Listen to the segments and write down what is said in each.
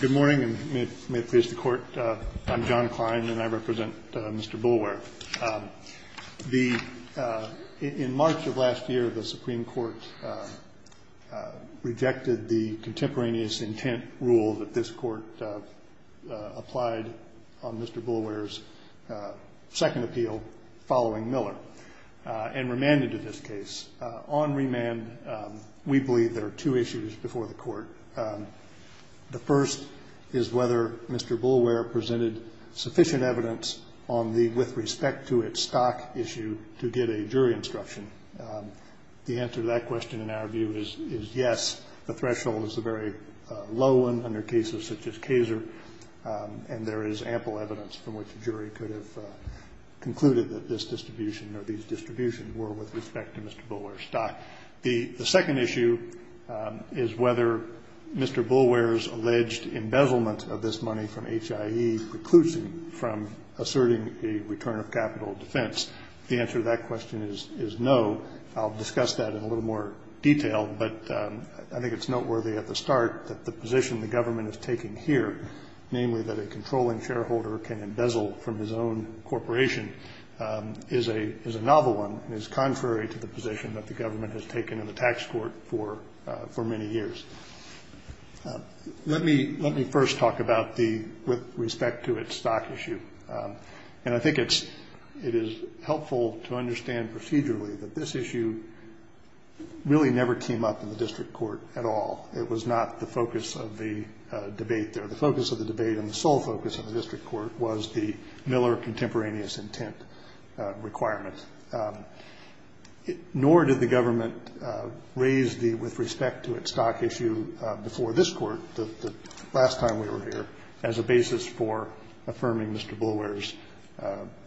Good morning, and may it please the Court, I'm John Klein, and I represent Mr. Boulware. In March of last year, the Supreme Court rejected the contemporaneous intent rule that this Court applied on Mr. Boulware's second appeal following Miller and remanded to this case. On remand, we believe there are two issues before the Court. The first is whether Mr. Boulware presented sufficient evidence on the with respect to it stock issue to get a jury instruction. The answer to that question, in our view, is yes. The threshold is a very low one under cases such as Kaser, and there is ample evidence from which a jury could have concluded that this distribution or these distributions were with respect to Mr. Boulware's stock. The second issue is whether Mr. Boulware's alleged embezzlement of this money from HIE precludes him from asserting a return of capital defense. The answer to that question is no. I'll discuss that in a little more detail, but I think it's noteworthy at the start that the position the government is taking here, namely that a controlling shareholder can embezzle from his own corporation, is a novel one and is contrary to the position that the government has taken in the tax court for many years. Let me first talk about the with respect to its stock issue, and I think it is helpful to understand procedurally that this issue really never came up in the district court at all. It was not the focus of the debate there. The focus of the debate and the sole focus of the district court was the Miller contemporaneous intent requirement. Nor did the government raise the with respect to its stock issue before this court, the last time we were here, as a basis for affirming Mr. Boulware's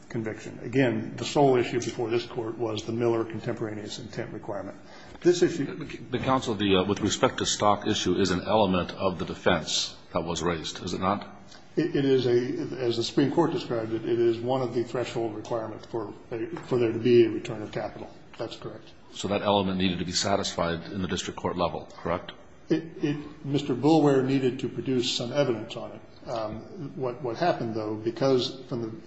conviction. Again, the sole issue before this court was the Miller contemporaneous intent requirement. The counsel with respect to stock issue is an element of the defense that was raised, is it not? It is a, as the Supreme Court described it, it is one of the threshold requirements for there to be a return of capital. That's correct. So that element needed to be satisfied in the district court level, correct? Mr. Boulware needed to produce some evidence on it. What happened, though, because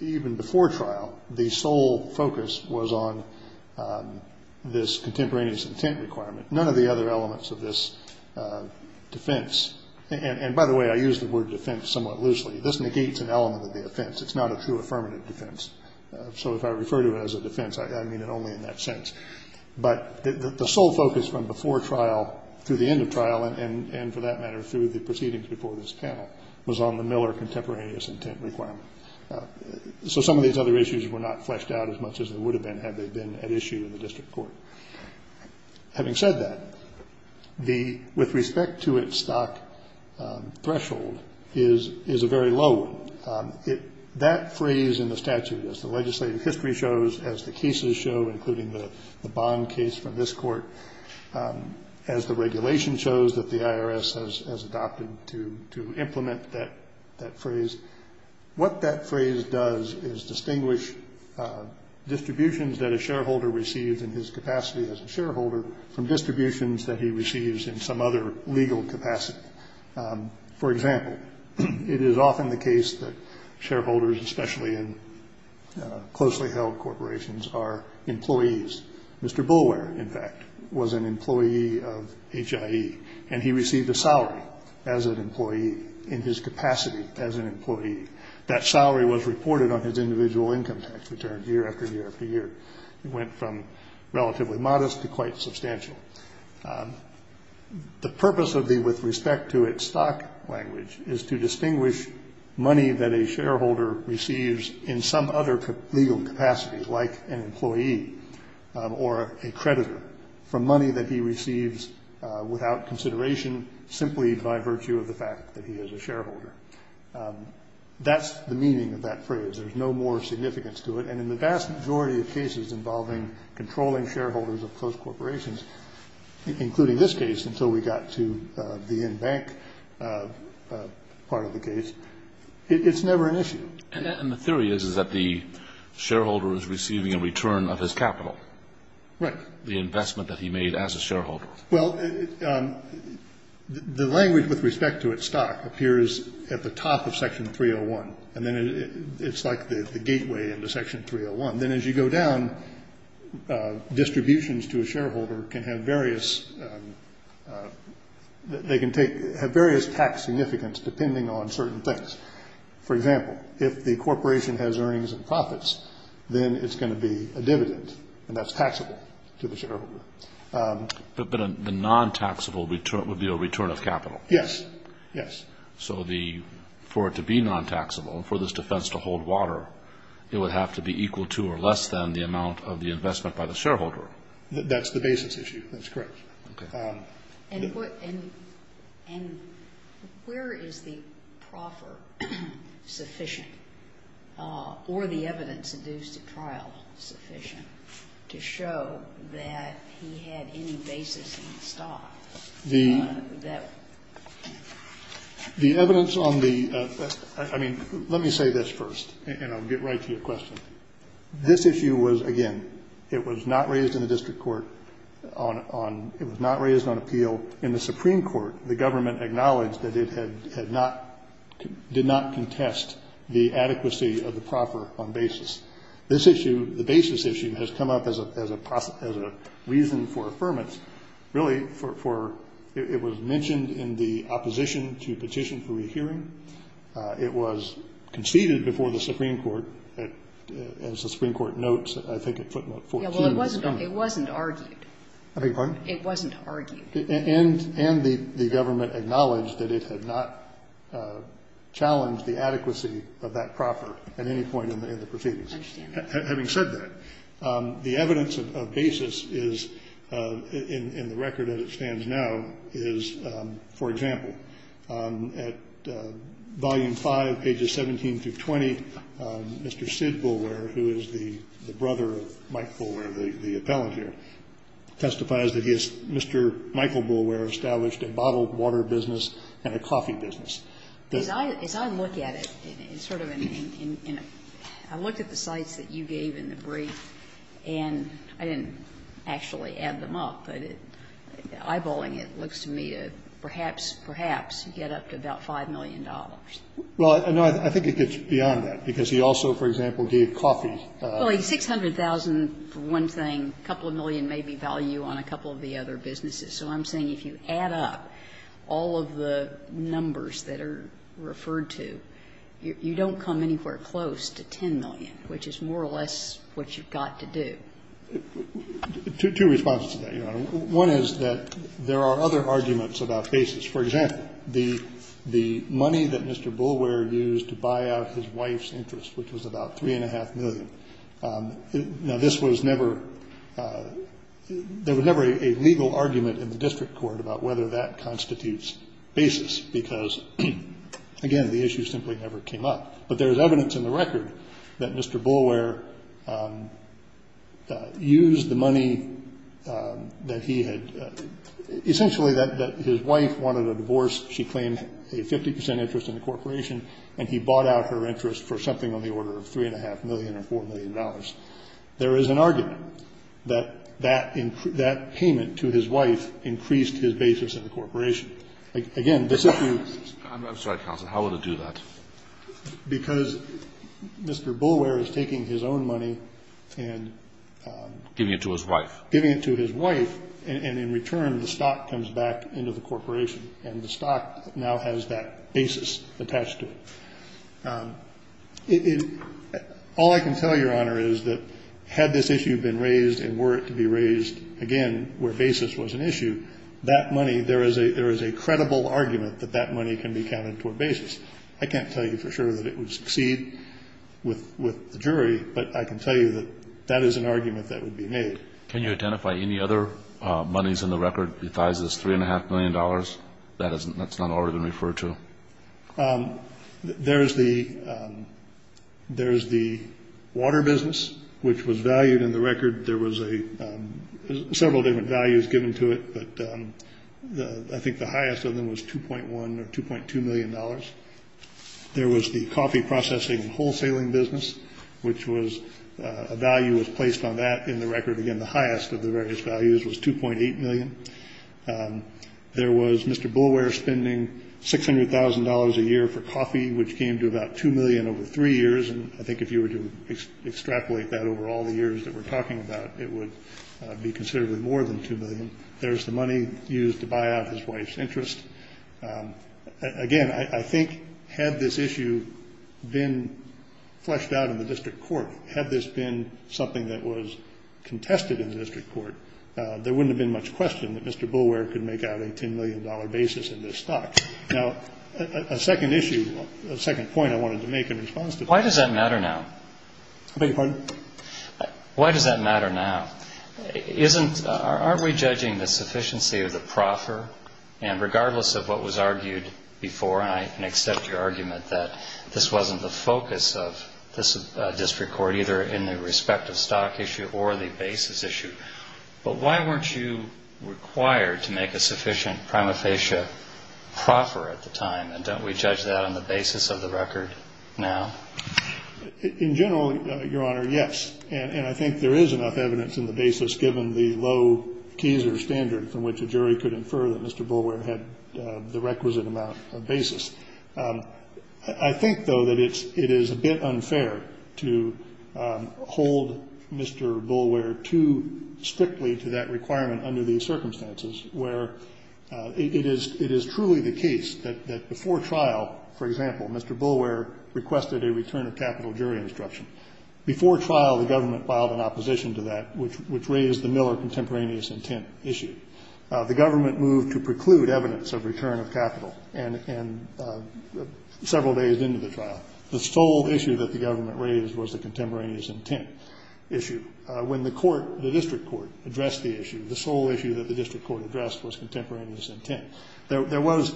even before trial, the sole focus was on this contemporaneous intent requirement. None of the other elements of this defense, and by the way, I use the word defense somewhat loosely. This negates an element of the offense. It's not a true affirmative defense. So if I refer to it as a defense, I mean it only in that sense. But the sole focus from before trial to the end of trial, and for that matter, through the proceedings before this panel, was on the Miller contemporaneous intent requirement. So some of these other issues were not fleshed out as much as they would have been had they been at issue in the district court. Having said that, with respect to its stock threshold, is a very low one. That phrase in the statute, as the legislative history shows, as the cases show, including the bond case from this court, as the regulation shows that the IRS has adopted to implement that phrase, what that phrase does is distinguish distributions that a shareholder receives in his capacity as a shareholder from distributions that he receives in some other legal capacity. For example, it is often the case that shareholders, especially in closely held corporations, are employees. Mr. Boulware, in fact, was an employee of HIE, and he received a salary as an employee in his capacity as an employee. That salary was reported on his individual income tax return year after year after year. It went from relatively modest to quite substantial. The purpose of the with respect to its stock language is to distinguish money that a shareholder receives in some other legal capacity, like an employee or a creditor, from money that he receives without consideration, simply by virtue of the fact that he is a shareholder. That's the meaning of that phrase. There's no more significance to it. And in the vast majority of cases involving controlling shareholders of close corporations, including this case until we got to the in-bank part of the case, it's never an issue. And the theory is that the shareholder is receiving a return of his capital. Right. The investment that he made as a shareholder. Well, the language with respect to its stock appears at the top of Section 301, and then it's like the gateway into Section 301. Then as you go down, distributions to a shareholder can have various tax significance depending on certain things. For example, if the corporation has earnings and profits, then it's going to be a dividend, and that's taxable to the shareholder. But the non-taxable would be a return of capital. Yes, yes. So for it to be non-taxable, for this defense to hold water, it would have to be equal to or less than the amount of the investment by the shareholder. That's the basis issue. That's correct. Okay. And where is the proffer sufficient or the evidence induced at trial sufficient to show that he had any basis in the stock? The evidence on the – I mean, let me say this first, and I'll get right to your question. This issue was, again, it was not raised in the district court on – it was not raised on appeal in the Supreme Court. The government acknowledged that it had not – did not contest the adequacy of the proffer on basis. This issue, the basis issue, has come up as a reason for affirmance really for – it was mentioned in the opposition to Petition for Rehearing. It was conceded before the Supreme Court as the Supreme Court notes, I think, at footnote 14. Yeah, well, it wasn't argued. I beg your pardon? It wasn't argued. And the government acknowledged that it had not challenged the adequacy of that proffer at any point in the proceedings. I understand that. Having said that, the evidence of basis is – in the record as it stands now is, for example, at volume 5, pages 17 through 20, Mr. Sid Boulware, who is the brother of Mike Boulware, the appellant here, testifies that he has – Mr. Michael Boulware established a bottled water business and a coffee business. As I look at it, it's sort of in a – I looked at the sites that you gave in the brief, and I didn't actually add them up, but eyeballing it looks to me to perhaps, perhaps get up to about $5 million. Well, no, I think it gets beyond that, because he also, for example, gave coffee. Well, $600,000 for one thing, a couple of million maybe value on a couple of the other businesses. So I'm saying if you add up all of the numbers that are referred to, you don't come anywhere close to $10 million, which is more or less what you've got to do. Two responses to that, Your Honor. One is that there are other arguments about basis. For example, the money that Mr. Boulware used to buy out his wife's interest, which was about $3.5 million. Now, this was never – there was never a legal argument in the district court about whether that constitutes basis, because, again, the issue simply never came up. But there is evidence in the record that Mr. Boulware used the money that he had – essentially that his wife wanted a divorce. She claimed a 50 percent interest in the corporation, and he bought out her interest for something on the order of $3.5 million or $4 million. There is an argument that that payment to his wife increased his basis in the corporation. Again, this issue – I'm sorry, counsel. How would it do that? Because Mr. Boulware is taking his own money and – Giving it to his wife. Giving it to his wife, and in return the stock comes back into the corporation, and the stock now has that basis attached to it. All I can tell you, Your Honor, is that had this issue been raised and were it to be raised, again, where basis was an issue, that money – there is a credible argument that that money can be counted toward basis. I can't tell you for sure that it would succeed with the jury, but I can tell you that that is an argument that would be made. Can you identify any other monies in the record besides this $3.5 million? That's not already been referred to. There is the water business, which was valued in the record. There was several different values given to it, but I think the highest of them was $2.1 or $2.2 million. There was the coffee processing and wholesaling business, which was – a value was placed on that in the record. Again, the highest of the various values was $2.8 million. There was Mr. Boulware spending $600,000 a year for coffee, which came to about $2 million over three years, and I think if you were to extrapolate that over all the years that we're talking about, it would be considerably more than $2 million. There's the money used to buy out his wife's interest. Again, I think had this issue been fleshed out in the district court, had this been something that was contested in the district court, there wouldn't have been much question that Mr. Boulware could make out a $10 million basis in this stock. Now, a second issue, a second point I wanted to make in response to that. Why does that matter now? I beg your pardon? Why does that matter now? Isn't – aren't we judging the sufficiency of the proffer? And regardless of what was argued before, and I can accept your argument that this wasn't the focus of this district court, either in the respective stock issue or the basis issue, but why weren't you required to make a sufficient prima facie proffer at the time? And don't we judge that on the basis of the record now? In general, Your Honor, yes. And I think there is enough evidence in the basis, given the low teaser standard from which a jury could infer that Mr. Boulware had the requisite amount of basis. I think, though, that it is a bit unfair to hold Mr. Boulware too strictly to that requirement under these circumstances, where it is truly the case that before trial, for example, Mr. Boulware requested a return of capital jury instruction. Before trial, the government filed an opposition to that, which raised the Miller contemporaneous intent issue. The government moved to preclude evidence of return of capital. And several days into the trial, the sole issue that the government raised was the contemporaneous intent issue. When the court, the district court, addressed the issue, the sole issue that the district court addressed was contemporaneous intent. There was,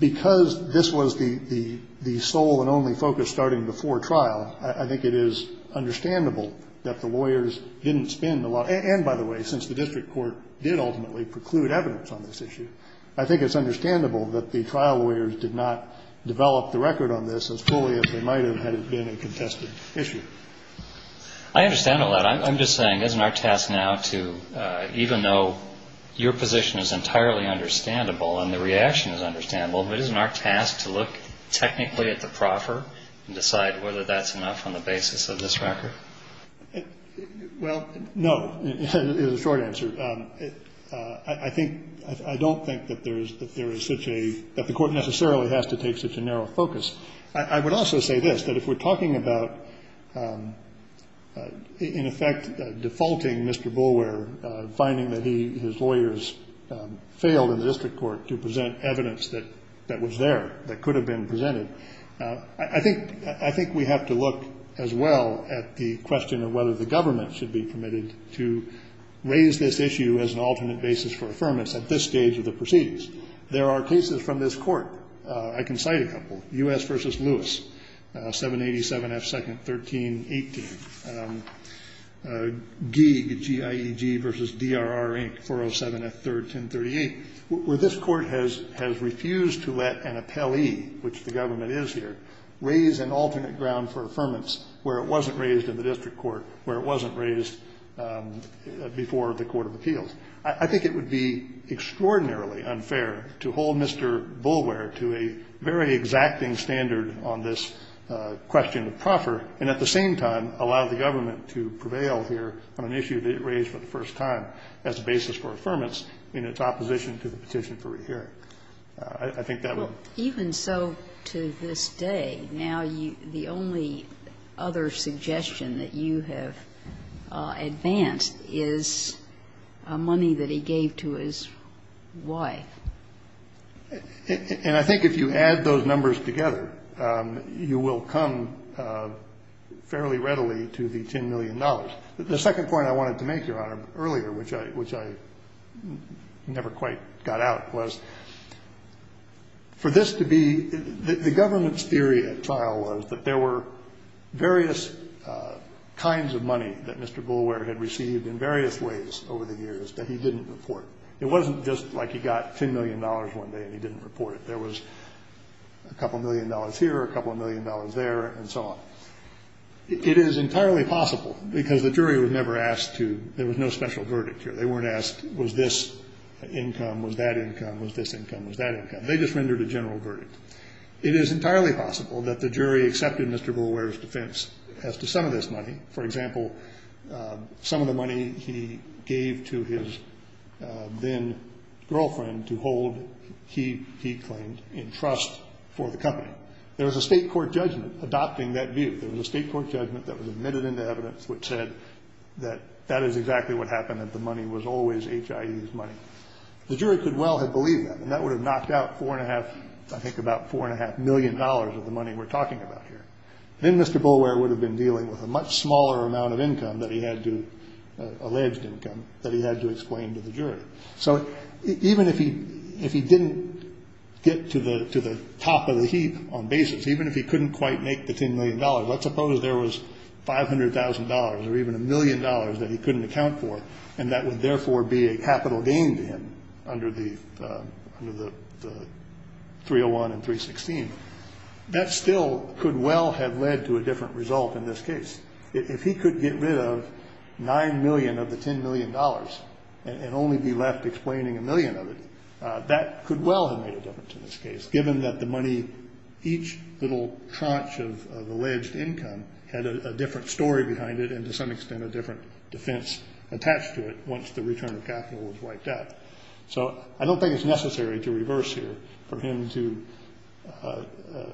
because this was the sole and only focus starting before trial, I think it is understandable that the lawyers didn't spend a lot. And, by the way, since the district court did ultimately preclude evidence on this issue, I think it's understandable that the trial lawyers did not develop the record on this as fully as they might have had it been a contested issue. I understand all that. I'm just saying, isn't our task now to, even though your position is entirely understandable and the reaction is understandable, isn't our task to look technically at the proffer and decide whether that's enough on the basis of this record? Well, no, is the short answer. I think, I don't think that there is such a, that the court necessarily has to take such a narrow focus. I would also say this, that if we're talking about, in effect, defaulting Mr. Boulware, finding that his lawyers failed in the district court to present evidence that was there, that could have been presented, I think we have to look, as well, at the question of whether the government should be permitted to raise this issue as an alternate basis for affirmance at this stage of the proceedings. There are cases from this court. I can cite a couple. U.S. v. Lewis, 787 F. 2nd, 1318. Geeg, G-I-E-G v. D-R-R, Inc., 407 F. 3rd, 1038, where this court has refused to let an appellee, which the government is here, raise an alternate ground for affirmance where it wasn't raised in the district court, where it wasn't raised before the court of appeals. I think it would be extraordinarily unfair to hold Mr. Boulware to a very exacting standard on this question of proffer, and at the same time, allow the government to prevail here on an issue that it raised for the first time as a basis for affirmance in its opposition to the petition for rehearing. I think that would be fair. Kagan. Even so, to this day, now the only other suggestion that you have advanced is money that he gave to his wife. And I think if you add those numbers together, you will come fairly readily to the $10 million. The second point I wanted to make, Your Honor, earlier, which I never quite got out, was for this to be the government's theory at trial was that there were various kinds of money that Mr. Boulware had received in various ways over the years that he didn't report. It wasn't just like he got $10 million one day and he didn't report it. There was a couple of million dollars here, a couple of million dollars there, and so on. It is entirely possible, because the jury was never asked to. There was no special verdict here. They weren't asked, was this income, was that income, was this income, was that income. They just rendered a general verdict. It is entirely possible that the jury accepted Mr. Boulware's defense as to some of this money. For example, some of the money he gave to his then-girlfriend to hold, he claimed, in trust for the company. There was a state court judgment adopting that view. There was a state court judgment that was admitted into evidence which said that that is exactly what happened, that the money was always HIE's money. The jury could well have believed that, and that would have knocked out four and a half, I think about four and a half million dollars of the money we're talking about here. Then Mr. Boulware would have been dealing with a much smaller amount of income that he had to, alleged income, that he had to explain to the jury. So even if he didn't get to the top of the heap on basis, even if he couldn't quite make the $10 million, let's suppose there was $500,000 or even a million dollars that he couldn't account for, and that would therefore be a capital gain to him under the 301 and 316, that still could well have led to a different result in this case. If he could get rid of $9 million of the $10 million and only be left explaining a million of it, that could well have made a difference in this case, given that the money, each little tranche of alleged income had a different story behind it and to some extent a different defense attached to it once the return of capital was wiped out. So I don't think it's necessary to reverse here for him to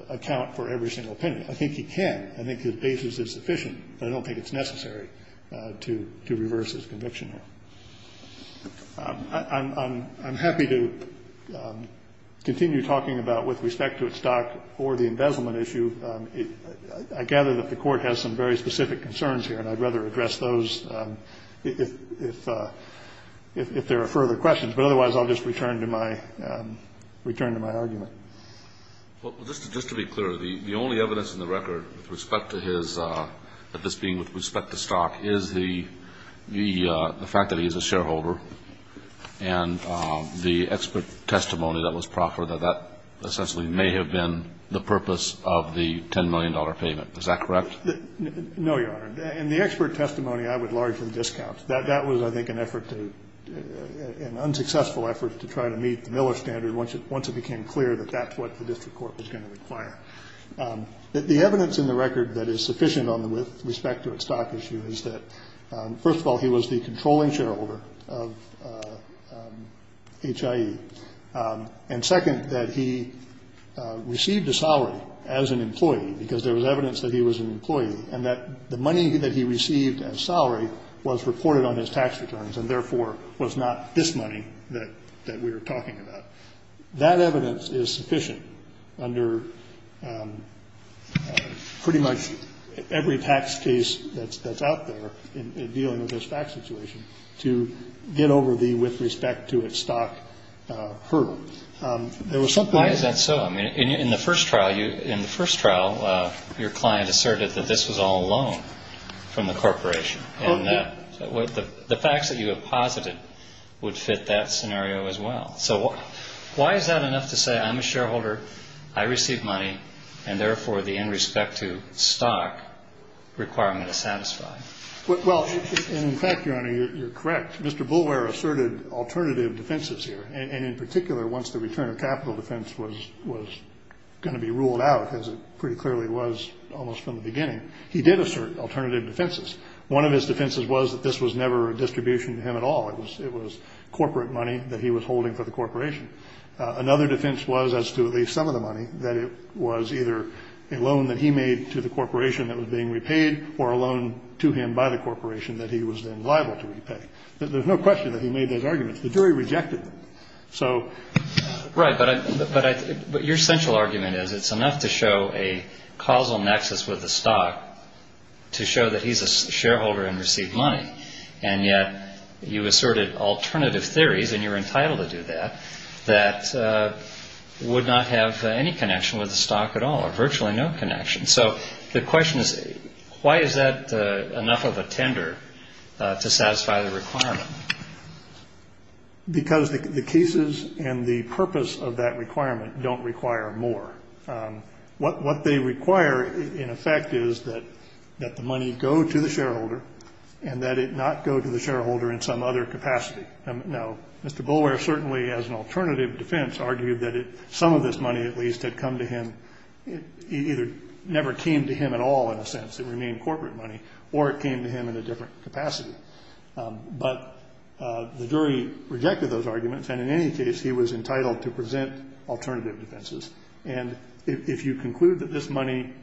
account for every single opinion. I think he can. I think his basis is sufficient, but I don't think it's necessary to reverse his conviction here. I'm happy to continue talking about with respect to its stock or the embezzlement issue. I gather that the Court has some very specific concerns here and I'd rather address those if there are further questions. But otherwise, I'll just return to my argument. Well, just to be clear, the only evidence in the record with respect to his, this being with respect to stock, is the fact that he is a shareholder and the expert testimony that was proffered that that essentially may have been the purpose of the Is that correct? No, Your Honor. In the expert testimony, I would largely discount. That was, I think, an effort to, an unsuccessful effort to try to meet the Miller standard once it became clear that that's what the District Court was going to require. The evidence in the record that is sufficient with respect to its stock issue is that first of all, he was the controlling shareholder of HIE. And second, that he received a salary as an employee because there was evidence that he was an employee and that the money that he received as salary was reported on his tax returns and, therefore, was not this money that we were talking about. That evidence is sufficient under pretty much every tax case that's out there in dealing with this tax situation to get over the with respect to its stock hurdle. There was some point. Why is that so? I mean, in the first trial, your client asserted that this was all a loan from the corporation. And the facts that you have posited would fit that scenario as well. So why is that enough to say I'm a shareholder, I receive money, and, therefore, the in respect to stock requirement is satisfied? Well, in fact, Your Honor, you're correct. Mr. Boulware asserted alternative defenses here. And in particular, once the return of capital defense was going to be ruled out, as it pretty clearly was almost from the beginning, he did assert alternative defenses. One of his defenses was that this was never a distribution to him at all. It was corporate money that he was holding for the corporation. Another defense was, as to at least some of the money, that it was either a loan that he made to the corporation that was being repaid or a loan to him by the corporation that he was then liable to repay. There's no question that he made those arguments. The jury rejected them. So. Right. But your central argument is it's enough to show a causal nexus with the stock to show that he's a shareholder and received money. And yet you asserted alternative theories, and you're entitled to do that, that would not have any connection with the stock at all or virtually no connection. So the question is, why is that enough of a tender to satisfy the requirement? Because the cases and the purpose of that requirement don't require more. What they require, in effect, is that the money go to the shareholder and that it not go to the shareholder in some other capacity. Now, Mr. Boulware certainly, as an alternative defense, argued that some of this money at least had come to him. It either never came to him at all in a sense. It remained corporate money. Or it came to him in a different capacity. But the jury rejected those arguments. And in any case, he was entitled to present alternative defenses. And if you conclude that this money,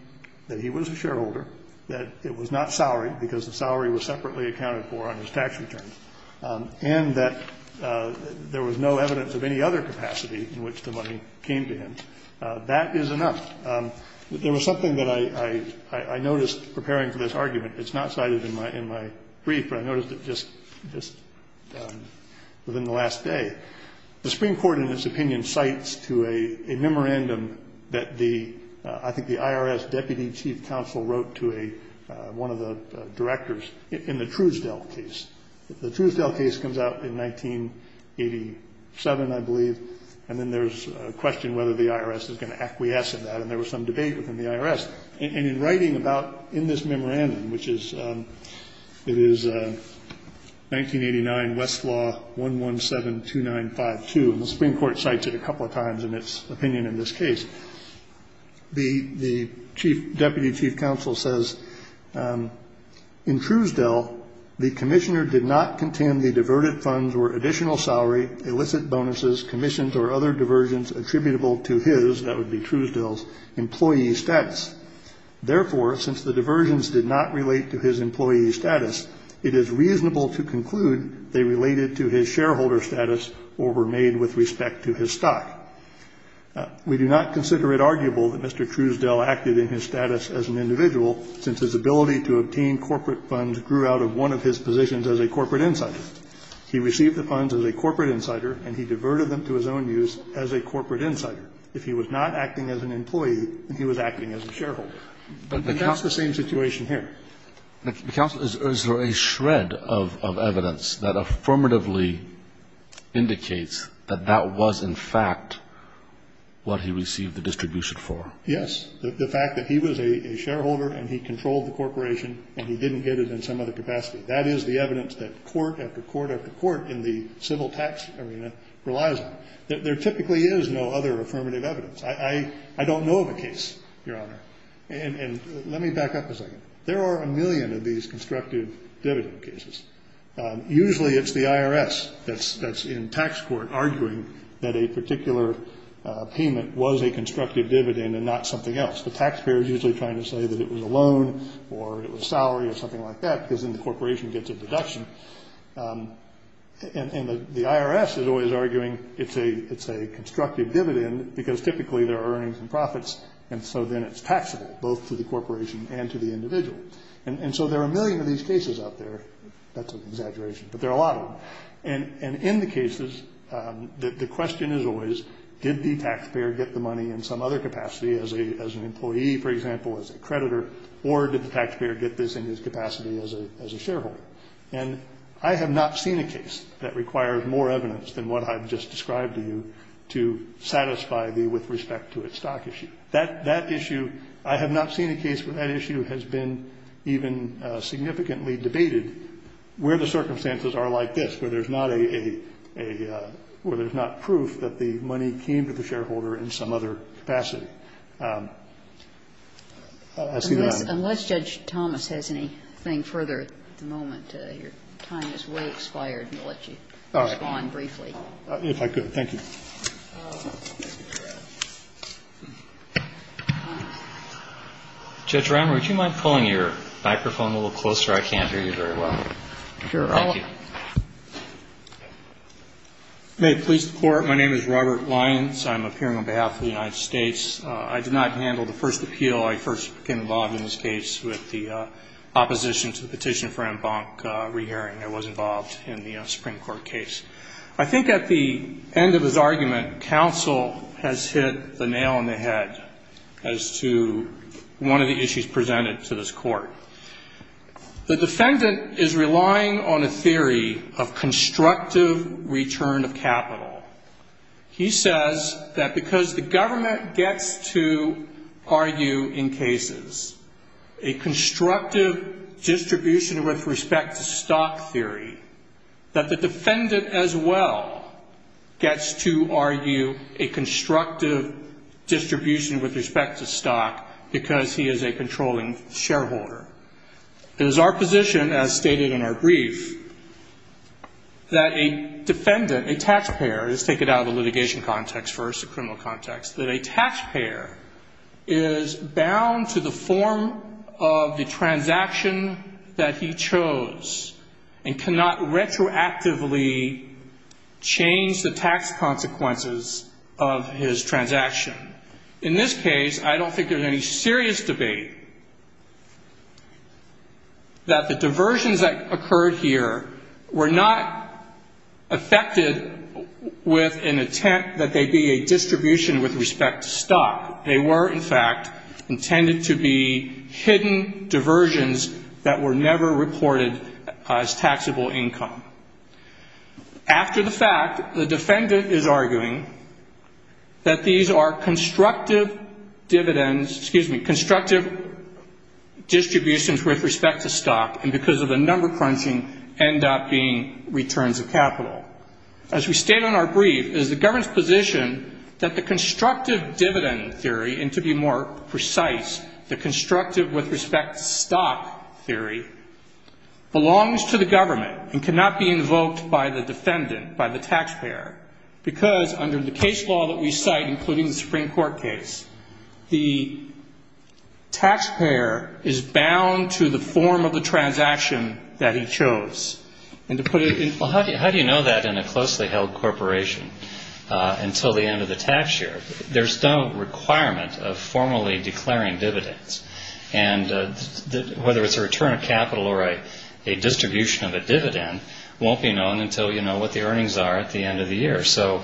that he was a shareholder, that it was not salaried because the salary was separately accounted for on his tax returns, and that there was no evidence of any other capacity in which the money came to him, that is enough. There was something that I noticed preparing for this argument. It's not cited in my brief, but I noticed it just within the last day. The Supreme Court, in its opinion, cites to a memorandum that the IRS deputy chief counsel wrote to one of the directors in the Truesdell case. The Truesdell case comes out in 1987, I believe. And then there's a question whether the IRS is going to acquiesce in that. And there was some debate within the IRS. And in writing about in this memorandum, which is 1989, Westlaw 1172952. And the Supreme Court cites it a couple of times in its opinion in this case. The deputy chief counsel says, In Truesdell, the commissioner did not contend the diverted funds were additional salary, illicit bonuses, commissions, or other diversions attributable to his, that would be Truesdell's, employee status. Therefore, since the diversions did not relate to his employee status, it is reasonable to conclude they related to his shareholder status or were made with respect to his stock. We do not consider it arguable that Mr. Truesdell acted in his status as an individual since his ability to obtain corporate funds grew out of one of his positions as a corporate insider. He received the funds as a corporate insider, and he diverted them to his own use as a corporate insider. If he was not acting as an employee, then he was acting as a shareholder. And that's the same situation here. The counsel, is there a shred of evidence that affirmatively indicates that that was in fact what he received the distribution for? Yes. The fact that he was a shareholder and he controlled the corporation and he didn't get it in some other capacity. That is the evidence that court after court after court in the civil tax arena relies on. There typically is no other affirmative evidence. I don't know of a case, Your Honor. And let me back up a second. There are a million of these constructive dividend cases. Usually it's the IRS that's in tax court arguing that a particular payment was a constructive dividend and not something else. The taxpayer is usually trying to say that it was a loan or it was salary or something like that because then the corporation gets a deduction. And the IRS is always arguing it's a constructive dividend because typically there are earnings and profits, and so then it's taxable both to the corporation and to the individual. And so there are a million of these cases out there. That's an exaggeration, but there are a lot of them. And in the cases, the question is always did the taxpayer get the money in some other capacity, as an employee, for example, as a creditor, or did the taxpayer get this in his capacity as a shareholder? And I have not seen a case that requires more evidence than what I've just described to you to satisfy the with respect to its stock issue. That issue, I have not seen a case where that issue has been even significantly debated where the circumstances are like this, where there's not a – where there's not proof that the money came to the shareholder in some other capacity. I see that I'm – Unless Judge Thomas has anything further at the moment, your time has way expired and I'll let you respond briefly. If I could. Thank you. Judge Reimer, would you mind pulling your microphone a little closer? I can't hear you very well. Thank you. May it please the Court. My name is Robert Lyons. I'm appearing on behalf of the United States. I did not handle the first appeal. I first became involved in this case with the opposition to the petition for en banc re-hearing. I was involved in the Supreme Court case. I think at the end of his argument, counsel has hit the nail on the head as to one of the issues presented to this Court. The defendant is relying on a theory of constructive return of capital. He says that because the government gets to argue in cases a constructive distribution with respect to stock theory, that the defendant as well gets to argue a constructive distribution with respect to stock because he is a controlling shareholder. It is our position, as stated in our brief, that a defendant, a tax payer – let's take it out of the litigation context first, the criminal context – that a tax payer is bound to the form of the transaction that he chose and cannot retroactively change the tax consequences of his transaction. In this case, I don't think there's any serious debate that the diversions that occurred here were not affected with an intent that they be a distribution with respect to stock. They were, in fact, intended to be hidden diversions that were never reported as taxable income. After the fact, the defendant is arguing that these are constructive dividends – excuse me – constructive distributions with respect to stock, and because of the number crunching, end up being returns of capital. As we state in our brief, it is the government's position that the constructive dividend theory, and to be more precise, the constructive with respect to stock theory, belongs to the government and cannot be invoked by the defendant, by the tax payer, because under the case law that we cite, including the Supreme Court case, the tax payer is bound to the form of the transaction that he chose. Well, how do you know that in a closely held corporation until the end of the tax year? There's no requirement of formally declaring dividends, and whether it's a return of capital or a distribution of a dividend won't be known until you know what the earnings are at the end of the year. So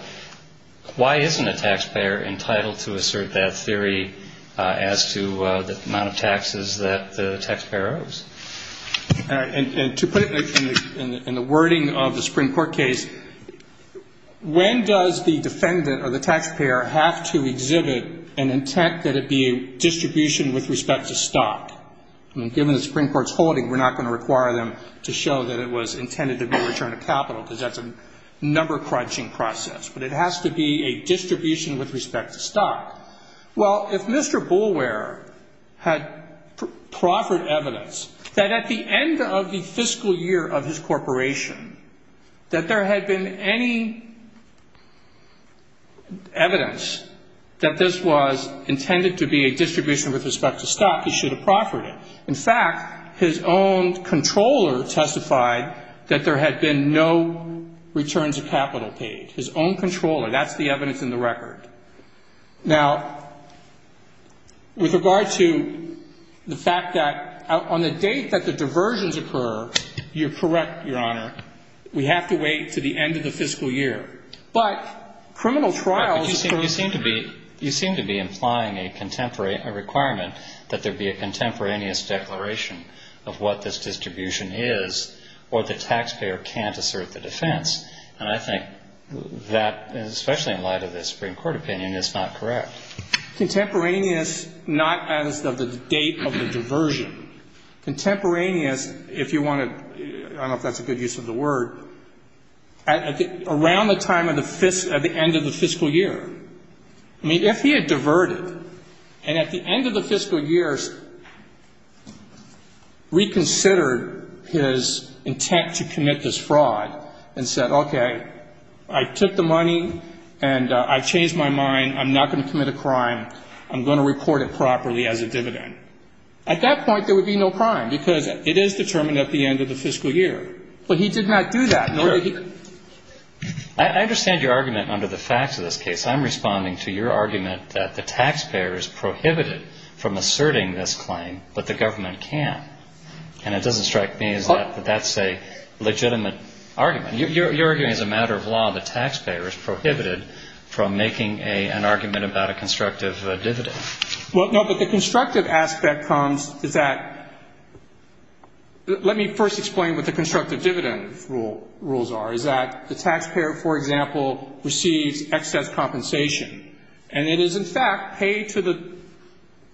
why isn't a tax payer entitled to assert that theory as to the amount of taxes that the tax payer owes? And to put it in the wording of the Supreme Court case, when does the defendant or the tax payer have to exhibit an intent that it be a distribution with respect to stock? Given the Supreme Court's holding, we're not going to require them to show that it was intended to be a return of capital because that's a number crunching process, but it has to be a distribution with respect to stock. Well, if Mr. Boulware had proffered evidence that at the end of the fiscal year of his corporation that there had been any evidence that this was intended to be a distribution with respect to stock, he should have proffered it. In fact, his own controller testified that there had been no returns of capital paid. His own controller testified that there had been no returns of capital paid. Now, with regard to the fact that on the date that the diversions occur, you're correct, Your Honor. We have to wait to the end of the fiscal year. But criminal trials occur... But you seem to be implying a requirement that there be a contemporaneous declaration of what this distribution is or the tax payer can't assert the contemporaneous, not as of the date of the diversion. Contemporaneous, if you want to, I don't know if that's a good use of the word, around the time of the end of the fiscal year. I mean, if he had diverted and at the end of the fiscal year reconsidered his intent to commit this fraud and said, okay, I took the money and I've changed my mind. I'm not going to commit a crime. I'm going to report it properly as a dividend. At that point, there would be no crime, because it is determined at the end of the fiscal year. But he did not do that. I understand your argument under the facts of this case. I'm responding to your argument that the tax payer is prohibited from asserting this claim, but the government can. And it doesn't strike me as that that's a legitimate argument. You're arguing as a matter of law the tax payer is prohibited from making an argument about a constructive dividend. Well, no, but the constructive aspect comes is that let me first explain what the constructive dividend rules are, is that the tax payer, for example, receives excess compensation. And it is, in fact, paid to the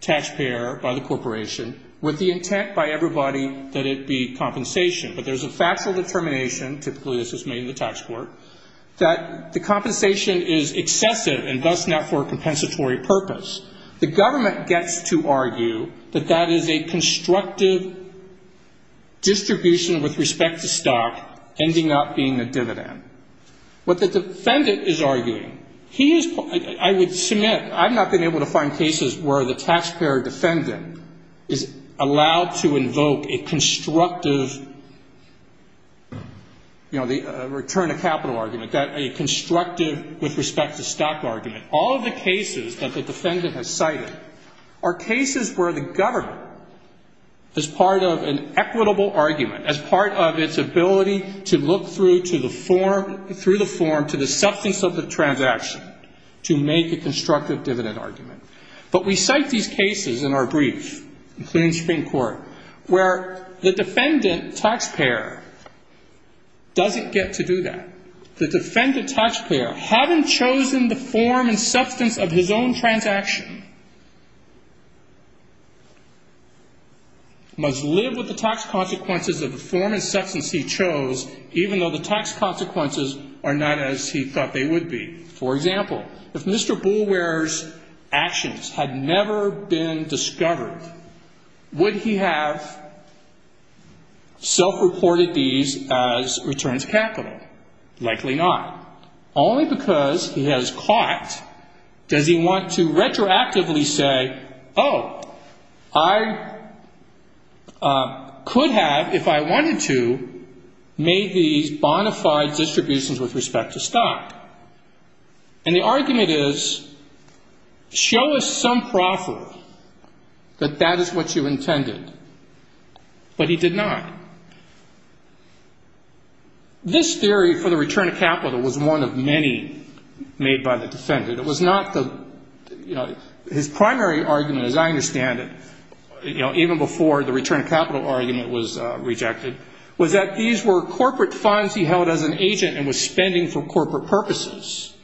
tax payer by the corporation with the intent by everybody that it be compensation. But there's a factual determination, typically this is made in the tax court, that the compensation is excessive and thus not for a compensatory purpose. The government gets to argue that that is a constructive distribution with respect to stock ending up being a dividend. What the defendant is arguing, he is, I would submit, I've not been able to find cases where the tax payer defendant is allowed to invoke a constructive return of capital argument, a constructive with respect to stock argument. All of the cases that the defendant has cited are cases where the government is part of an equitable argument, as part of its ability to look through the form to the substance of the transaction to make a constructive dividend argument. But we cite these cases in our brief, including Supreme Court, where the defendant tax payer doesn't get to do that. The defendant tax payer, having chosen the form and substance of his own transaction, must live with the tax consequences of the form and substance he chose, even though the tax consequences are not as he thought they would be. For example, if Mr. Boulware's actions had never been discovered, would he have self-reported these as returns capital? Likely not. Only because he has caught does he want to retroactively say, oh, I could have, if I wanted to, made these bonafide distributions with respect to stock. And the argument is, show us some proffer that that is what you intended. But he did not. This theory for the return of capital was one of many made by the defendant. It was not the, you know, his primary argument, as I understand it, you know, even before the return of capital argument was rejected, was that these were corporate funds he held as an agent and was spending for corporate purposes.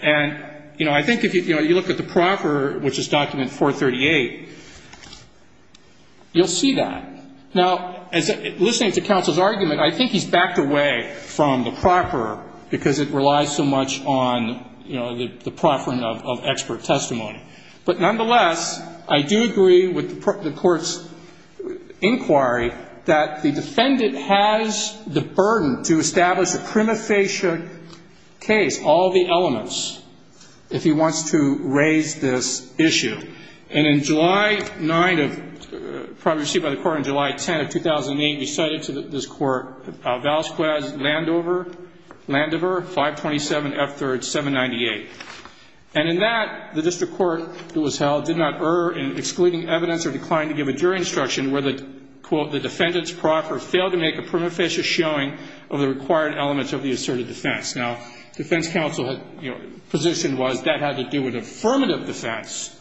And, you know, I think if you look at the document 438, you'll see that. Now, listening to counsel's argument, I think he's backed away from the proffer because it relies so much on, you know, the proffering of expert testimony. But nonetheless, I do agree with the court's inquiry that the defendant has the burden to establish a prima facie case, all the elements, if he wants to raise this issue. And in July 9 of, probably received by the court on July 10 of 2008, he cited to this court Valsquez Landover, Landover, 527F3rd798. And in that, the district court that was held did not err in excluding evidence or declined to give a jury instruction where the, quote, the defendant's proffer failed to make a prima facie showing of the required elements of the asserted defense. Now, defense counsel had, you know, positioned was that had to do with affirmative defense.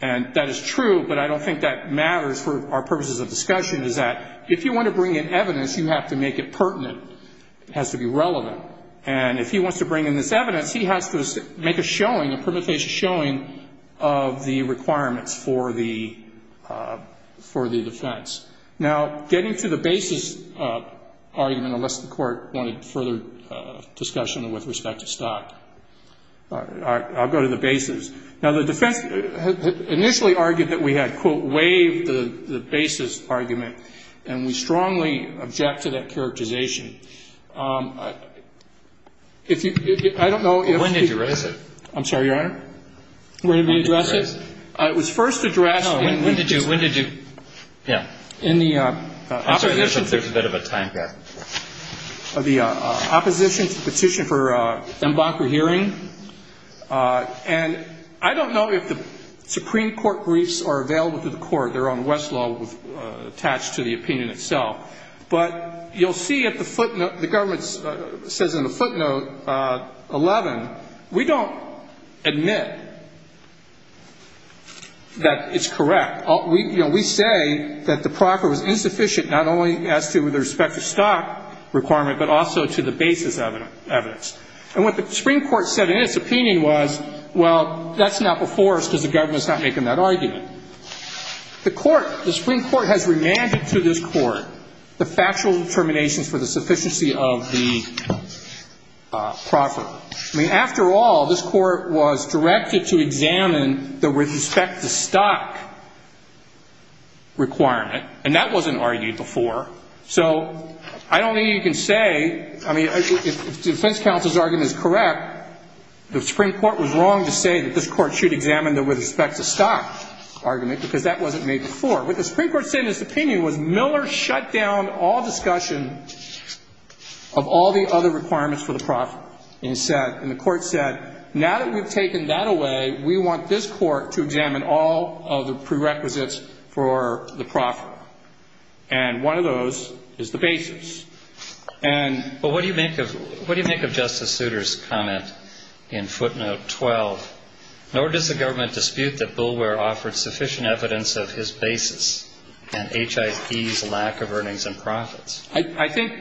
And that is true, but I don't think that matters for our purposes of discussion, is that if you want to bring in evidence, you have to make it pertinent. It has to be relevant. And if he wants to bring in this evidence, he has to make a showing, a prima facie showing of the requirements for the defense. Now, getting to the basis argument, unless the Court wanted further discussion with respect to stock, I'll go to the basis. Now, the defense initially argued that we had, quote, waived the basis argument. And we strongly object to that characterization. If you, I don't know if he... When did you raise it? I'm sorry, Your Honor? When did you raise it? It was first addressed... No. When did you, when did you... Yeah. In the opposition... I'm sorry, there's a bit of a time gap. The opposition's petition for en banc for hearing. And I don't know if the Supreme Court briefs are available to the Court. They're on Westlaw attached to the opinion itself. But you'll see at the footnote, the government says in the footnote, 11, we don't admit that it's correct. You know, we say that the proffer was insufficient not only as to the respect to stock requirement, but also to the basis evidence. And what the Supreme Court said in its opinion was, well, that's not before us because the government's not making that argument. The Supreme Court has remanded to this Court the factual determinations for the sufficiency of the proffer. I mean, after all, this Court was directed to examine the with respect to stock requirement. And that wasn't argued before. So I don't think you can say, I mean, if defense counsel's argument is correct, the Supreme Court was wrong to say that this Court should examine the with respect to stock argument because that wasn't made before. What the Supreme Court said in its opinion was Miller shut down all discussion of all the other requirements for the proffer. And it said, and the Court said, now that we've taken that away, we want this Court to examine all of the prerequisites for the proffer. And one of those is the basis. And But what do you make of Justice Souter's comment in footnote 12? Nor does the government dispute that Bulwer offered sufficient evidence of his basis and HIE's lack of earnings and profits. I think,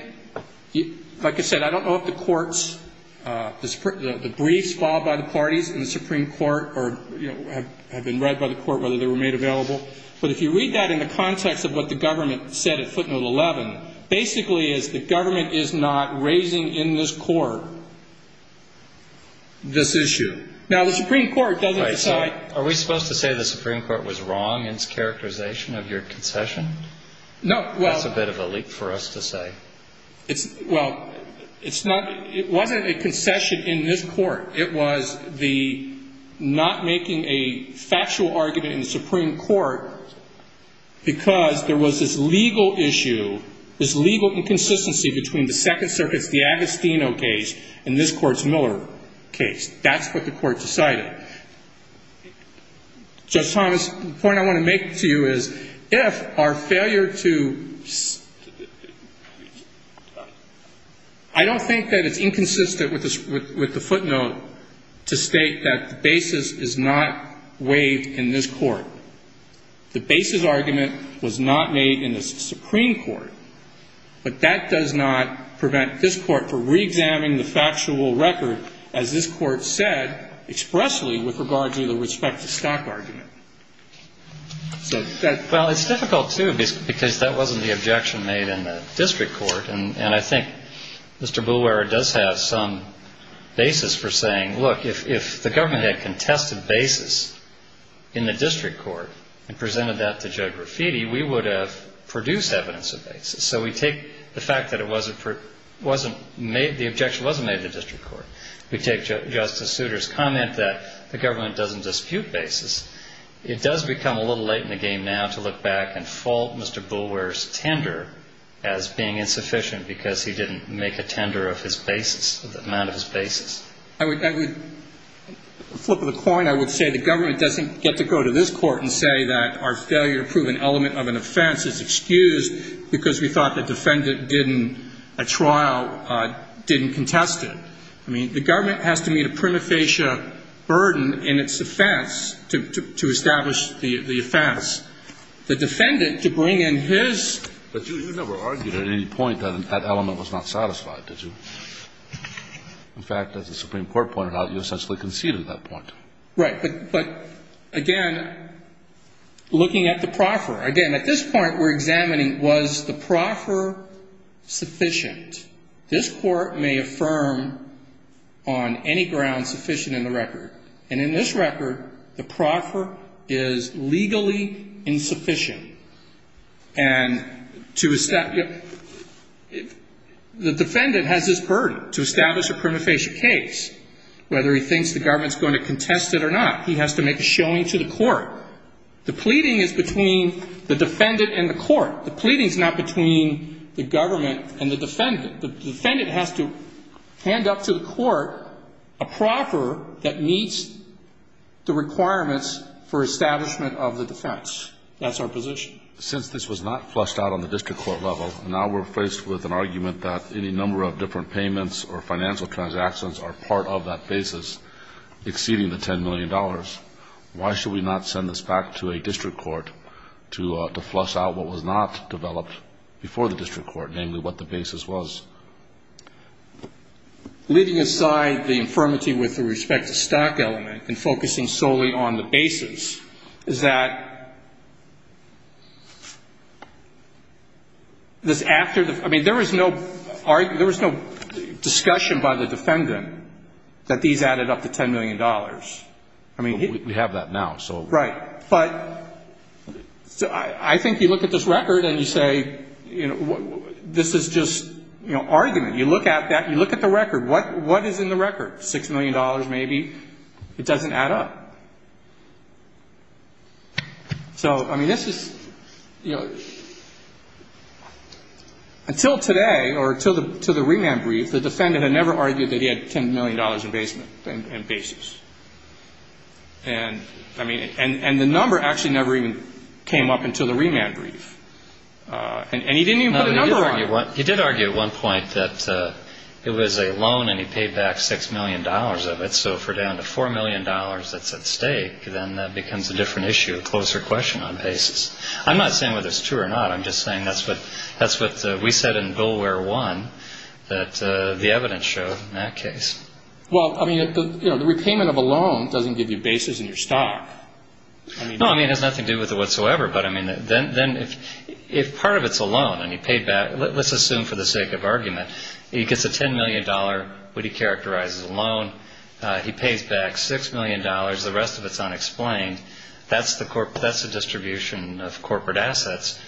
like I said, I don't know if the Court's, the briefs filed by the parties in the Supreme Court or, you know, have been read by the Court whether they were made available. But if you read that in the context of what the government said at footnote 11, basically is the government is not raising in this Court this issue. Now, the Supreme Court doesn't decide. Are we supposed to say the same thing? Do we have a leak for us to say? Well, it's not, it wasn't a concession in this Court. It was the not making a factual argument in the Supreme Court because there was this legal issue, this legal inconsistency between the Second Circuit's, the Agostino case and this Court's Miller case. That's what the Court decided. Judge Thomas, the point I want to make to you is if our failure to I don't think that it's inconsistent with the footnote to state that the basis is not waived in this Court. The basis argument was not made in the Supreme Court, but that does not prevent this Court from reexamining the factual record as this Court said expressly with regard to the respect to stack argument. Well, it's difficult, too, because that wasn't the objection made in the district court, and I think Mr. Boulware does have some basis for saying, look, if the government had contested basis in the district court and presented that to Judge Graffiti, we would have produced evidence of basis. So we take the fact that it wasn't made, the objection wasn't made in the district court. We take Justice Souter's comment that the government doesn't dispute basis. It does become a little late in the game now to look back and fault Mr. Boulware's tender as being insufficient because he didn't make a tender of his basis, of the amount of his basis. I would flip the coin. I would say the government doesn't get to go to this Court and say that our failure to prove an element of an offense is excused because we thought the defendant didn't, a trial didn't contest it. I mean, the government has to meet a prima facie burden in its offense to establish the offense. The defendant, to bring in his But you never argued at any point that that element was not satisfied, did you? In fact, as the Supreme Court pointed out, you essentially conceded that point. Right. But again, looking at the proffer, again, at this point we're examining was the proffer sufficient. This Court may affirm on any ground sufficient in the record. And in this record, the proffer is legally insufficient. And to establish, the defendant has this to make a showing to the court. The pleading is between the defendant and the court. The pleading is not between the government and the defendant. The defendant has to hand up to the court a proffer that meets the requirements for establishment of the defense. That's our position. Since this was not flushed out on the district court level, now we're faced with an argument that any number of different payments or financial transactions are part of that basis, exceeding the $10 million. Why should we not send this back to a district court to flush out what was not developed before the district court, namely what the basis was? Leaving aside the infirmity with respect to stock element and focusing solely on the basis, is that there was no discussion by the defendant that these added up to $10 million? We have that now. I think you look at this record and you say, this is just argument. You look at the record. What is in the record? $6 million maybe? It doesn't add up. Until today, or until the remand brief, the defendant had never argued that he had $10 million in basis. And the number actually never even came up until the remand brief. And he didn't even put a number on it. You did argue at one point that it was a loan and he paid back $6 million of it. So if we're down to $4 million that's at stake, then that becomes a different issue, a closer question on basis. I'm not saying whether it's true or not. I'm just saying that's what we said in Billware 1 that the evidence showed in that case. The repayment of a loan doesn't give you basis in your stock. It has nothing to do with it whatsoever. If part of it's a loan and he paid back, let's assume for the sake of argument, he gets a $10 million, what he characterizes as a loan. He pays back $6 million. The rest of it's unexplained. That's the distribution of corporate assets.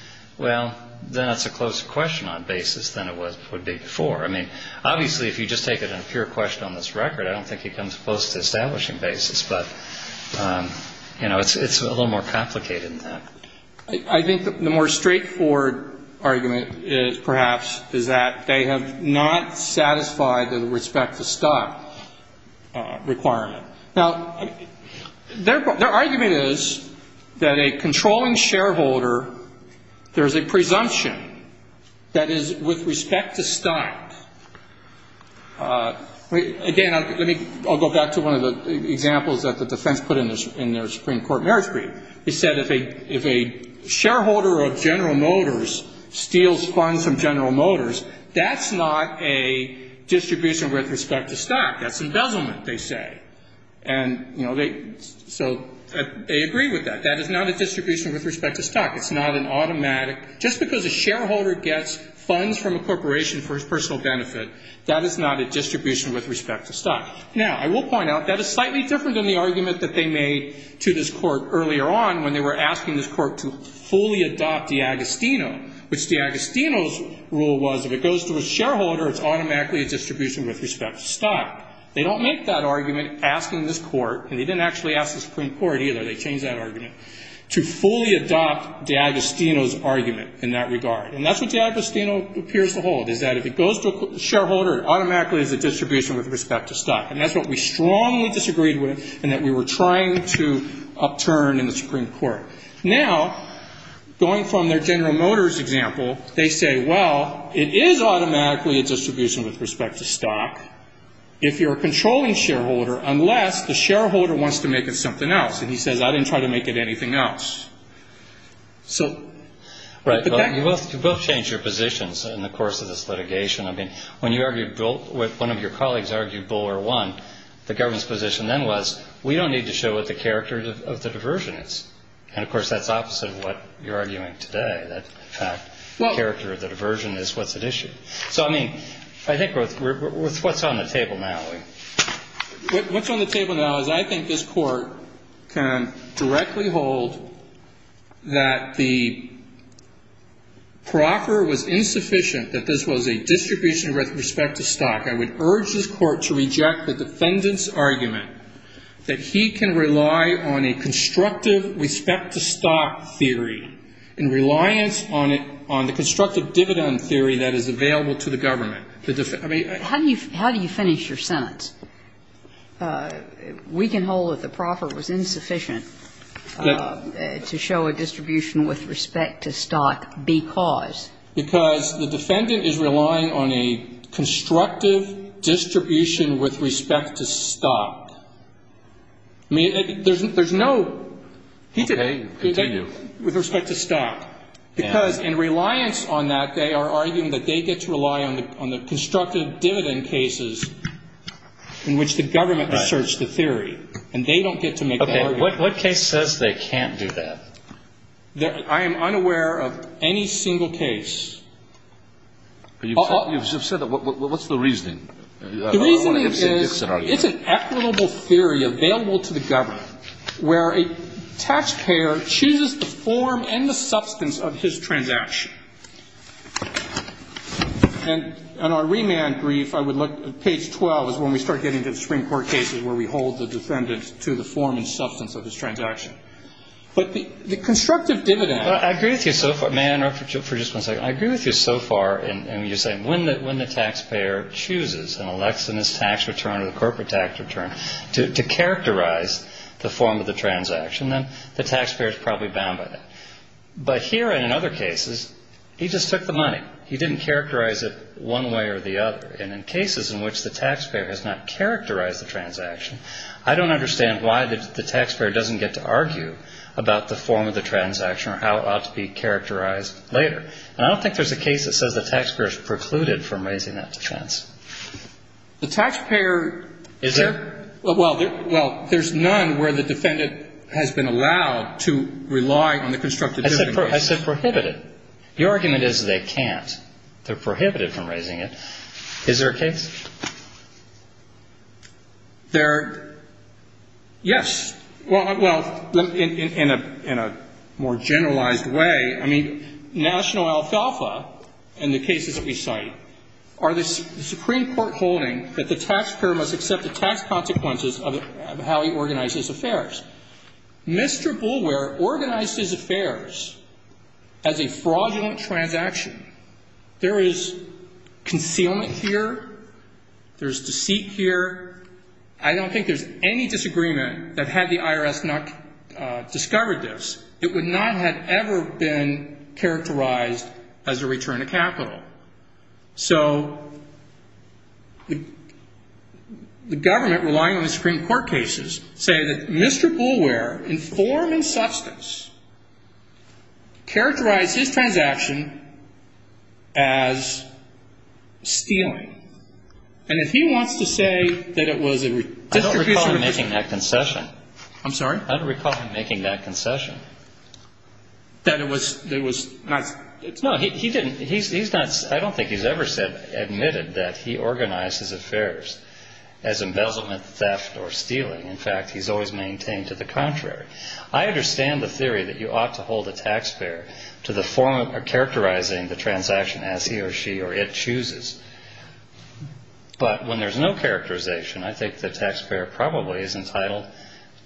Then it's a closer question on basis than it would be before. I mean, obviously if you just take it in a pure question on this record, I don't think he comes close to establishing basis, but it's a little more complicated than that. I think the more straightforward argument perhaps is that they have not satisfied the respect to stock requirement. Now, their argument is that a controlling shareholder, there's a presumption that is with respect to stock. Again, I'll go back to one of the examples that the defense put in their Supreme Court marriage brief. They said if a shareholder of General Motors steals funds from General Motors, that's not a distribution with respect to stock. That's embezzlement, they say. So they agree with that. That is not a distribution with respect to stock. It's not an automatic. Just because a shareholder gets funds from a corporation for his personal benefit, that is not a distribution with respect to stock. Now, I will point out that is slightly different than the argument that they made to this court earlier on when they were asking this court to fully adopt the Agostino, which the Agostino's rule was if it goes to a shareholder, it automatically is a distribution with respect to stock. And that's what we strongly disagreed with and that we were trying to upturn in the Supreme Court. Now, going from their General Motors example, they say, well, it is automatically a distribution with respect to stock. If you're a controlling shareholder, you're a judge. You have to do what you have to do to make a distribution with respect to the shareholder. And then, last, the shareholder wants to make it something else. And he says, I didn't try to make it anything else. So... Right. You both changed your positions in the course of this litigation. I mean, when you argued with one of your colleagues, argued bull or one, the government's position then was we don't need to show what the government's position is. I think this court can directly hold that the proffer was insufficient, that this was a distribution with respect to stock. I would urge this court to reject the defendant's argument that he can rely on a constructive respect to stock theory in reliance on the constructive dividend theory that is available to the government. How do you finish your sentence? We can hold that the proffer was insufficient to show a distribution with respect to stock because... Because the defendant is relying on a constructive distribution with respect to stock. I mean, there's no... Okay. Continue. With respect to stock. Because in reliance on that, they are arguing that they get to rely on the constructive dividend cases in which the government asserts the theory. And they don't get to make the argument. Okay. What case says they can't do that? I am unaware of any single case. The reason is it's an equitable theory available to the government where a taxpayer chooses the form and the substance of his transaction. And on our remand brief, I would look at page 12 is when we start getting to the Supreme Court cases where we hold the defendant to the form and substance of his transaction. But the constructive dividend... Well, I agree with you so far. May I interrupt for just one second? I agree with you so far in when you're saying when the taxpayer chooses and elects in his tax return or the corporate tax return to characterize the form of the transaction, then the taxpayer is probably bound by that. But here and in other cases, he just took the money. He didn't characterize it one way or the other. And in cases in which the taxpayer has not characterized the transaction, I don't understand why the taxpayer doesn't get to argue about the form of the transaction or how it ought to be characterized later. And I don't think there's a case that says the taxpayer is precluded from raising that defense. The taxpayer... Well, there's none where the defendant has been allowed to rely on the constructive dividend. I said prohibited. The argument is they can't. They're prohibited from raising it. Is there a case? There... Yes. Well, in a more generalized way, I mean, National Alfalfa and the cases that we cite are the Supreme Court holding that the taxpayer must accept the tax consequences of how he organized his affairs. Mr. Boulware organized his affairs as a fraudulent transaction. There is concealment here. There's deceit here. I don't think there's any disagreement that had the IRS not discovered this, it would not have ever been characterized as a return of capital. So the government, relying on the Supreme Court cases, say that Mr. Boulware, in form and substance, characterized his transaction as stealing. And if he wants to say that it was a redistribution... I don't recall him making that concession. I'm sorry? I don't recall him making that concession. That it was not... No, he didn't. He's not... I don't think he's ever admitted that he organized his affairs as embezzlement, theft or stealing. In fact, he's always maintained to the contrary. I understand the theory that you ought to hold the taxpayer to the form of characterizing the transaction as he or she or it chooses. But when there's no characterization, I think the taxpayer probably is entitled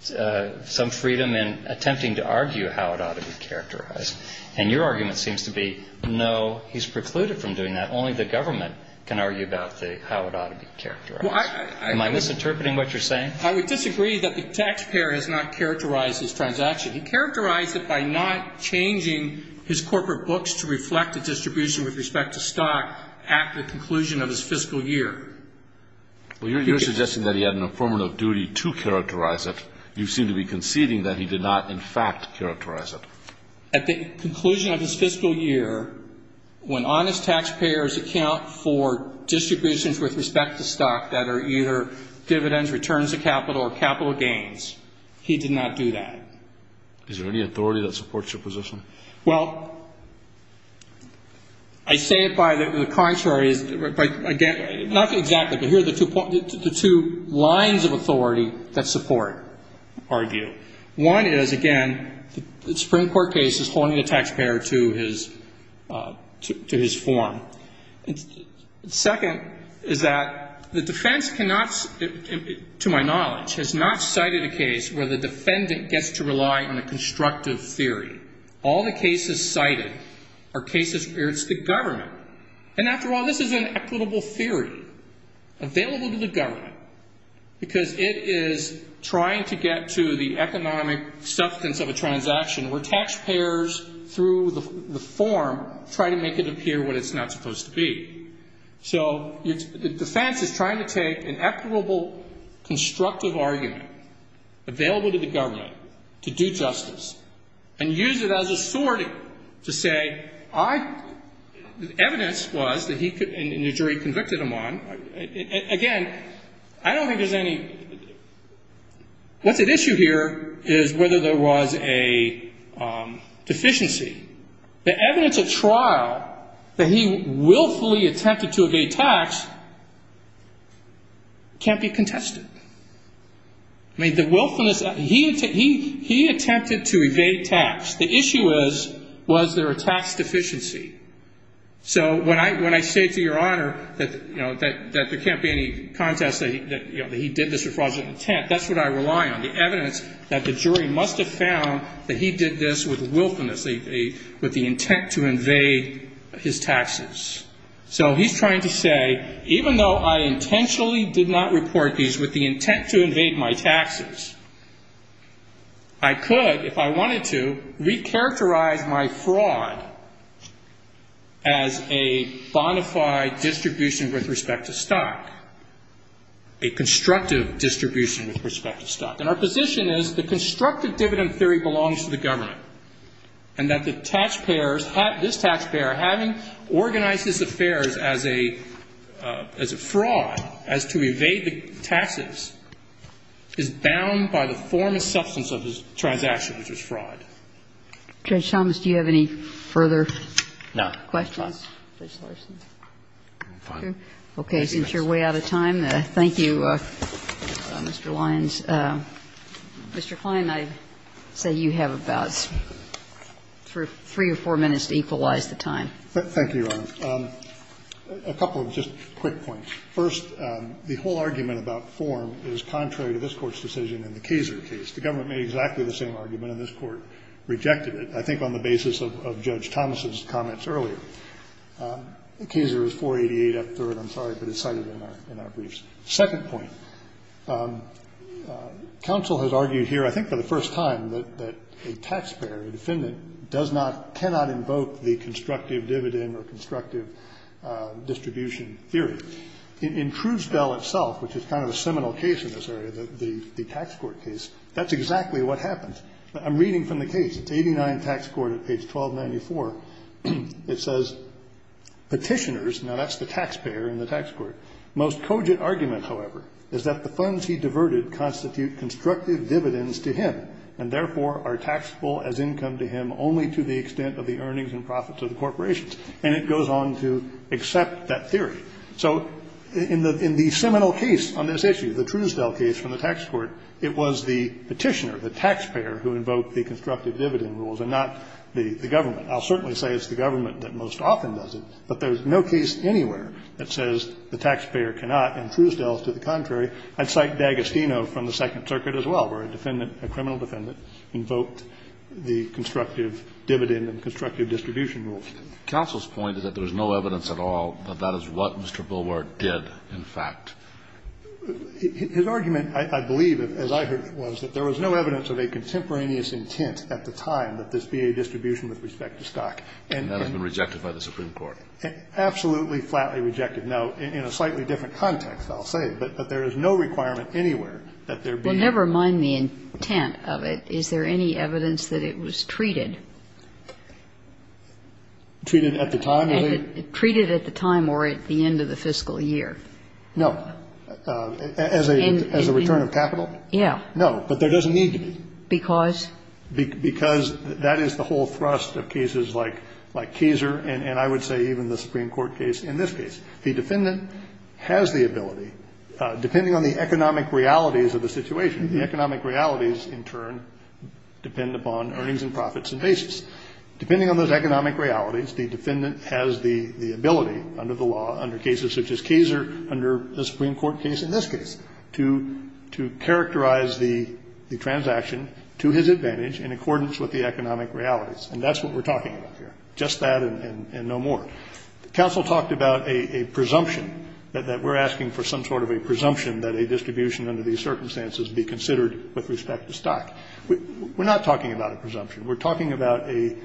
to some freedom in attempting to argue how it ought to be characterized. And your argument seems to be, no, he's precluded from doing that. Only the government can argue about how it ought to be characterized. Am I misinterpreting what you're saying? I would disagree that the taxpayer has not characterized his transaction. He characterized it by not changing his corporate books to reflect a distribution with respect to stock at the conclusion of his fiscal year. Well, you're suggesting that he had an affirmative duty to characterize it. You seem to be conceding that he did not, in fact, characterize it. At the conclusion of his fiscal year, when honest taxpayers account for distributions with respect to stock that are either dividends, returns of capital or capital gains, he did not do that. Is there any authority that supports your position? Well, I say it by the contrary, not exactly, but here are the two lines of authority that support, argue. One is, again, the Supreme Court case is holding the taxpayer to his form. Second is that the taxpayer has not characterized his transaction. The defense cannot, to my knowledge, has not cited a case where the defendant gets to rely on a constructive theory. All the cases cited are cases where it's the government. And after all, this is an equitable theory available to the government, because it is trying to get to the economic substance of a transaction where taxpayers through the form try to make it appear what it's not supposed to be. So the defense cannot, to my knowledge, argue that. The defense is trying to take an equitable, constructive argument available to the government to do justice and use it as a sorting to say, I, the evidence was that he, and the jury convicted him on. Again, I don't think there's any, what's at issue here is whether there was a deficiency. The evidence of trial that he willfully attempted to evade tax can't be contested. I mean, the willfulness, he attempted to evade tax. The issue is, was there a tax deficiency? So when I say to your Honor that there can't be any contest that he did this with fraudulent intent, that's what I rely on, the evidence that the jury must have found that he did this with willfulness, with the intent to evade his taxes. So he's trying to say, even though I intentionally did not report these with the intent to evade my taxes, I could, if I wanted to, recharacterize my fraud as a bona fide distribution with respect to stock, a constructive distribution with respect to stock. And our position is the constructive dividend theory belongs to the government, and that the taxpayers, this taxpayer, having organized his affairs as a fraud, as to evade the taxes, is bound by the form and substance of his transaction, which was fraud. Kagan. Judge Thomas, do you have any further questions? No. Judge Larson? I'm fine. Okay. Since you're way out of time, thank you, Mr. Lyons. Mr. Kline, I say you have a bout. Thank you, Your Honor. A couple of just quick points. First, the whole argument about form is contrary to this Court's decision in the Kaser case. The government made exactly the same argument, and this Court rejected it, I think on the basis of Judge Thomas's comments earlier. The Kaser is 488F3rd, I'm sorry, but it's cited in our briefs. Second point, counsel has argued here, I think for the first time, that a taxpayer, a defendant, does not, cannot invoke the constructive dividend or constructive distribution theory. In Truesdell itself, which is kind of a seminal case in this area, the tax court case, that's exactly what happens. I'm reading from the case. It's 89 Tax Court at page 1294. It says, Petitioners, now that's the taxpayer in the tax court, most cogent argument, however, is that the funds he diverted constitute constructive dividends to him, and therefore are taxable as income to him only to the extent of the earnings and profits of the corporations. And it goes on to accept that theory. So in the seminal case on this issue, the Truesdell case from the tax court, it was the petitioner, the taxpayer, who invoked the constructive dividend rules and not the government. I'll certainly say it's the government that most often does it, but there's no case anywhere that says the taxpayer cannot, and Truesdell is to the contrary. I'd cite D'Agostino from the Second Circuit as well, where a defendant, a criminal defendant, invoked the constructive dividend and constructive distribution rules. Kennedy. Counsel's point is that there's no evidence at all that that is what Mr. Billward did, in fact. Kennedy. His argument, I believe, as I heard it was, that there was no evidence of a contemporaneous intent at the time that this be a distribution with respect to stock. Kennedy. And that has been rejected by the Supreme Court. Kennedy. Absolutely flatly rejected. Now, in a slightly different context, I'll say, but there is no requirement anywhere that there be. Kagan. Well, never mind the intent of it. Is there any evidence that it was treated? Kennedy. Treated at the time? Kagan. Treated at the time or at the end of the fiscal year. Kennedy. No. As a return of capital? Kagan. Yeah. Kennedy. No. But there doesn't need to be. Kagan. Because? Kennedy. Because that is the whole thrust of cases like Kaeser and I would say even the Supreme Court case in this case. The defendant has the ability, depending on the economic realities of the situation, the economic realities in turn depend upon earnings and profits and basis. Depending on those economic realities, the defendant has the ability under the law, under cases such as Kaeser, under the Supreme Court case in this case, to characterize the transaction to his advantage in accordance with the economic realities. And that's what we're talking about here, just that and no more. Counsel talked about a presumption, that we're asking for some sort of a presumption that a distribution under these circumstances be considered with respect to stock. We're not talking about a presumption. We're talking about a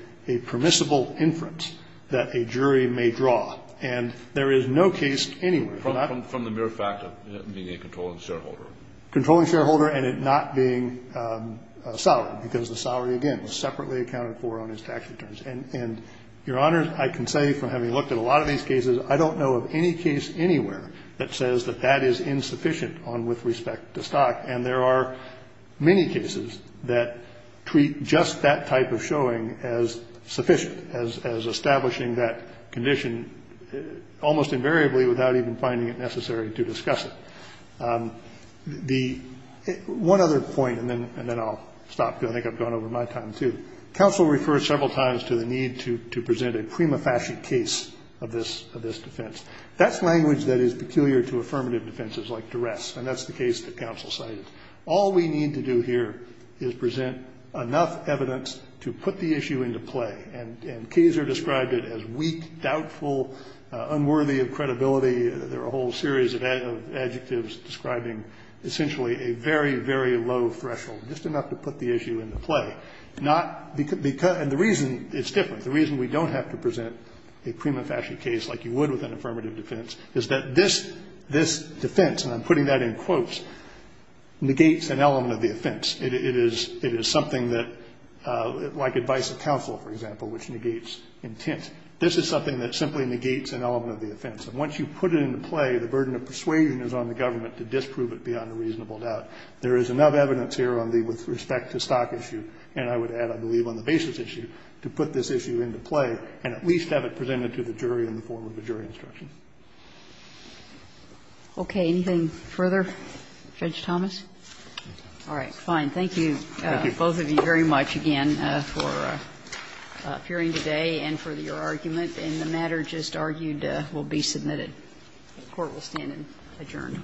permissible inference that a jury may draw. And there is no case anywhere. Kennedy. From the mere fact of being a controlling shareholder. Controlling shareholder and it not being a salary, because the salary, again, was separately accounted for on his tax returns. And, Your Honor, I can say from having looked at a lot of these cases, I don't know of any case anywhere that says that that is insufficient on with respect to stock. And there are many cases that treat just that type of showing as sufficient, as establishing that condition almost invariably without even finding it necessary to discuss it. The one other point, and then I'll stop because I think I've gone over my time too. Counsel referred several times to the need to present a prima facie case of this defense. That's language that is peculiar to affirmative defenses like duress. And that's the case that counsel cited. All we need to do here is present enough evidence to put the issue into play. And Kaser described it as weak, doubtful, unworthy of credibility. There are a whole series of adjectives describing essentially a very, very low threshold, just enough to put the issue into play. And the reason it's different, the reason we don't have to present a prima facie case like you would with an affirmative defense is that this defense, and I'm putting that in quotes, negates an element of the offense. It is something that, like advice of counsel, for example, which negates intent. This is something that simply negates an element of the offense. And once you put it into play, the burden of persuasion is on the government to disprove it beyond a reasonable doubt. There is enough evidence here on the, with respect to stock issue, and I would add, I believe, on the basis issue, to put this issue into play and at least have it presented to the jury in the form of a jury instruction. Okay. Anything further? Judge Thomas? All right. Fine. Thank you. Thank you. Both of you very much again for appearing today and for your argument. And the matter just argued will be submitted. The Court will stand adjourned.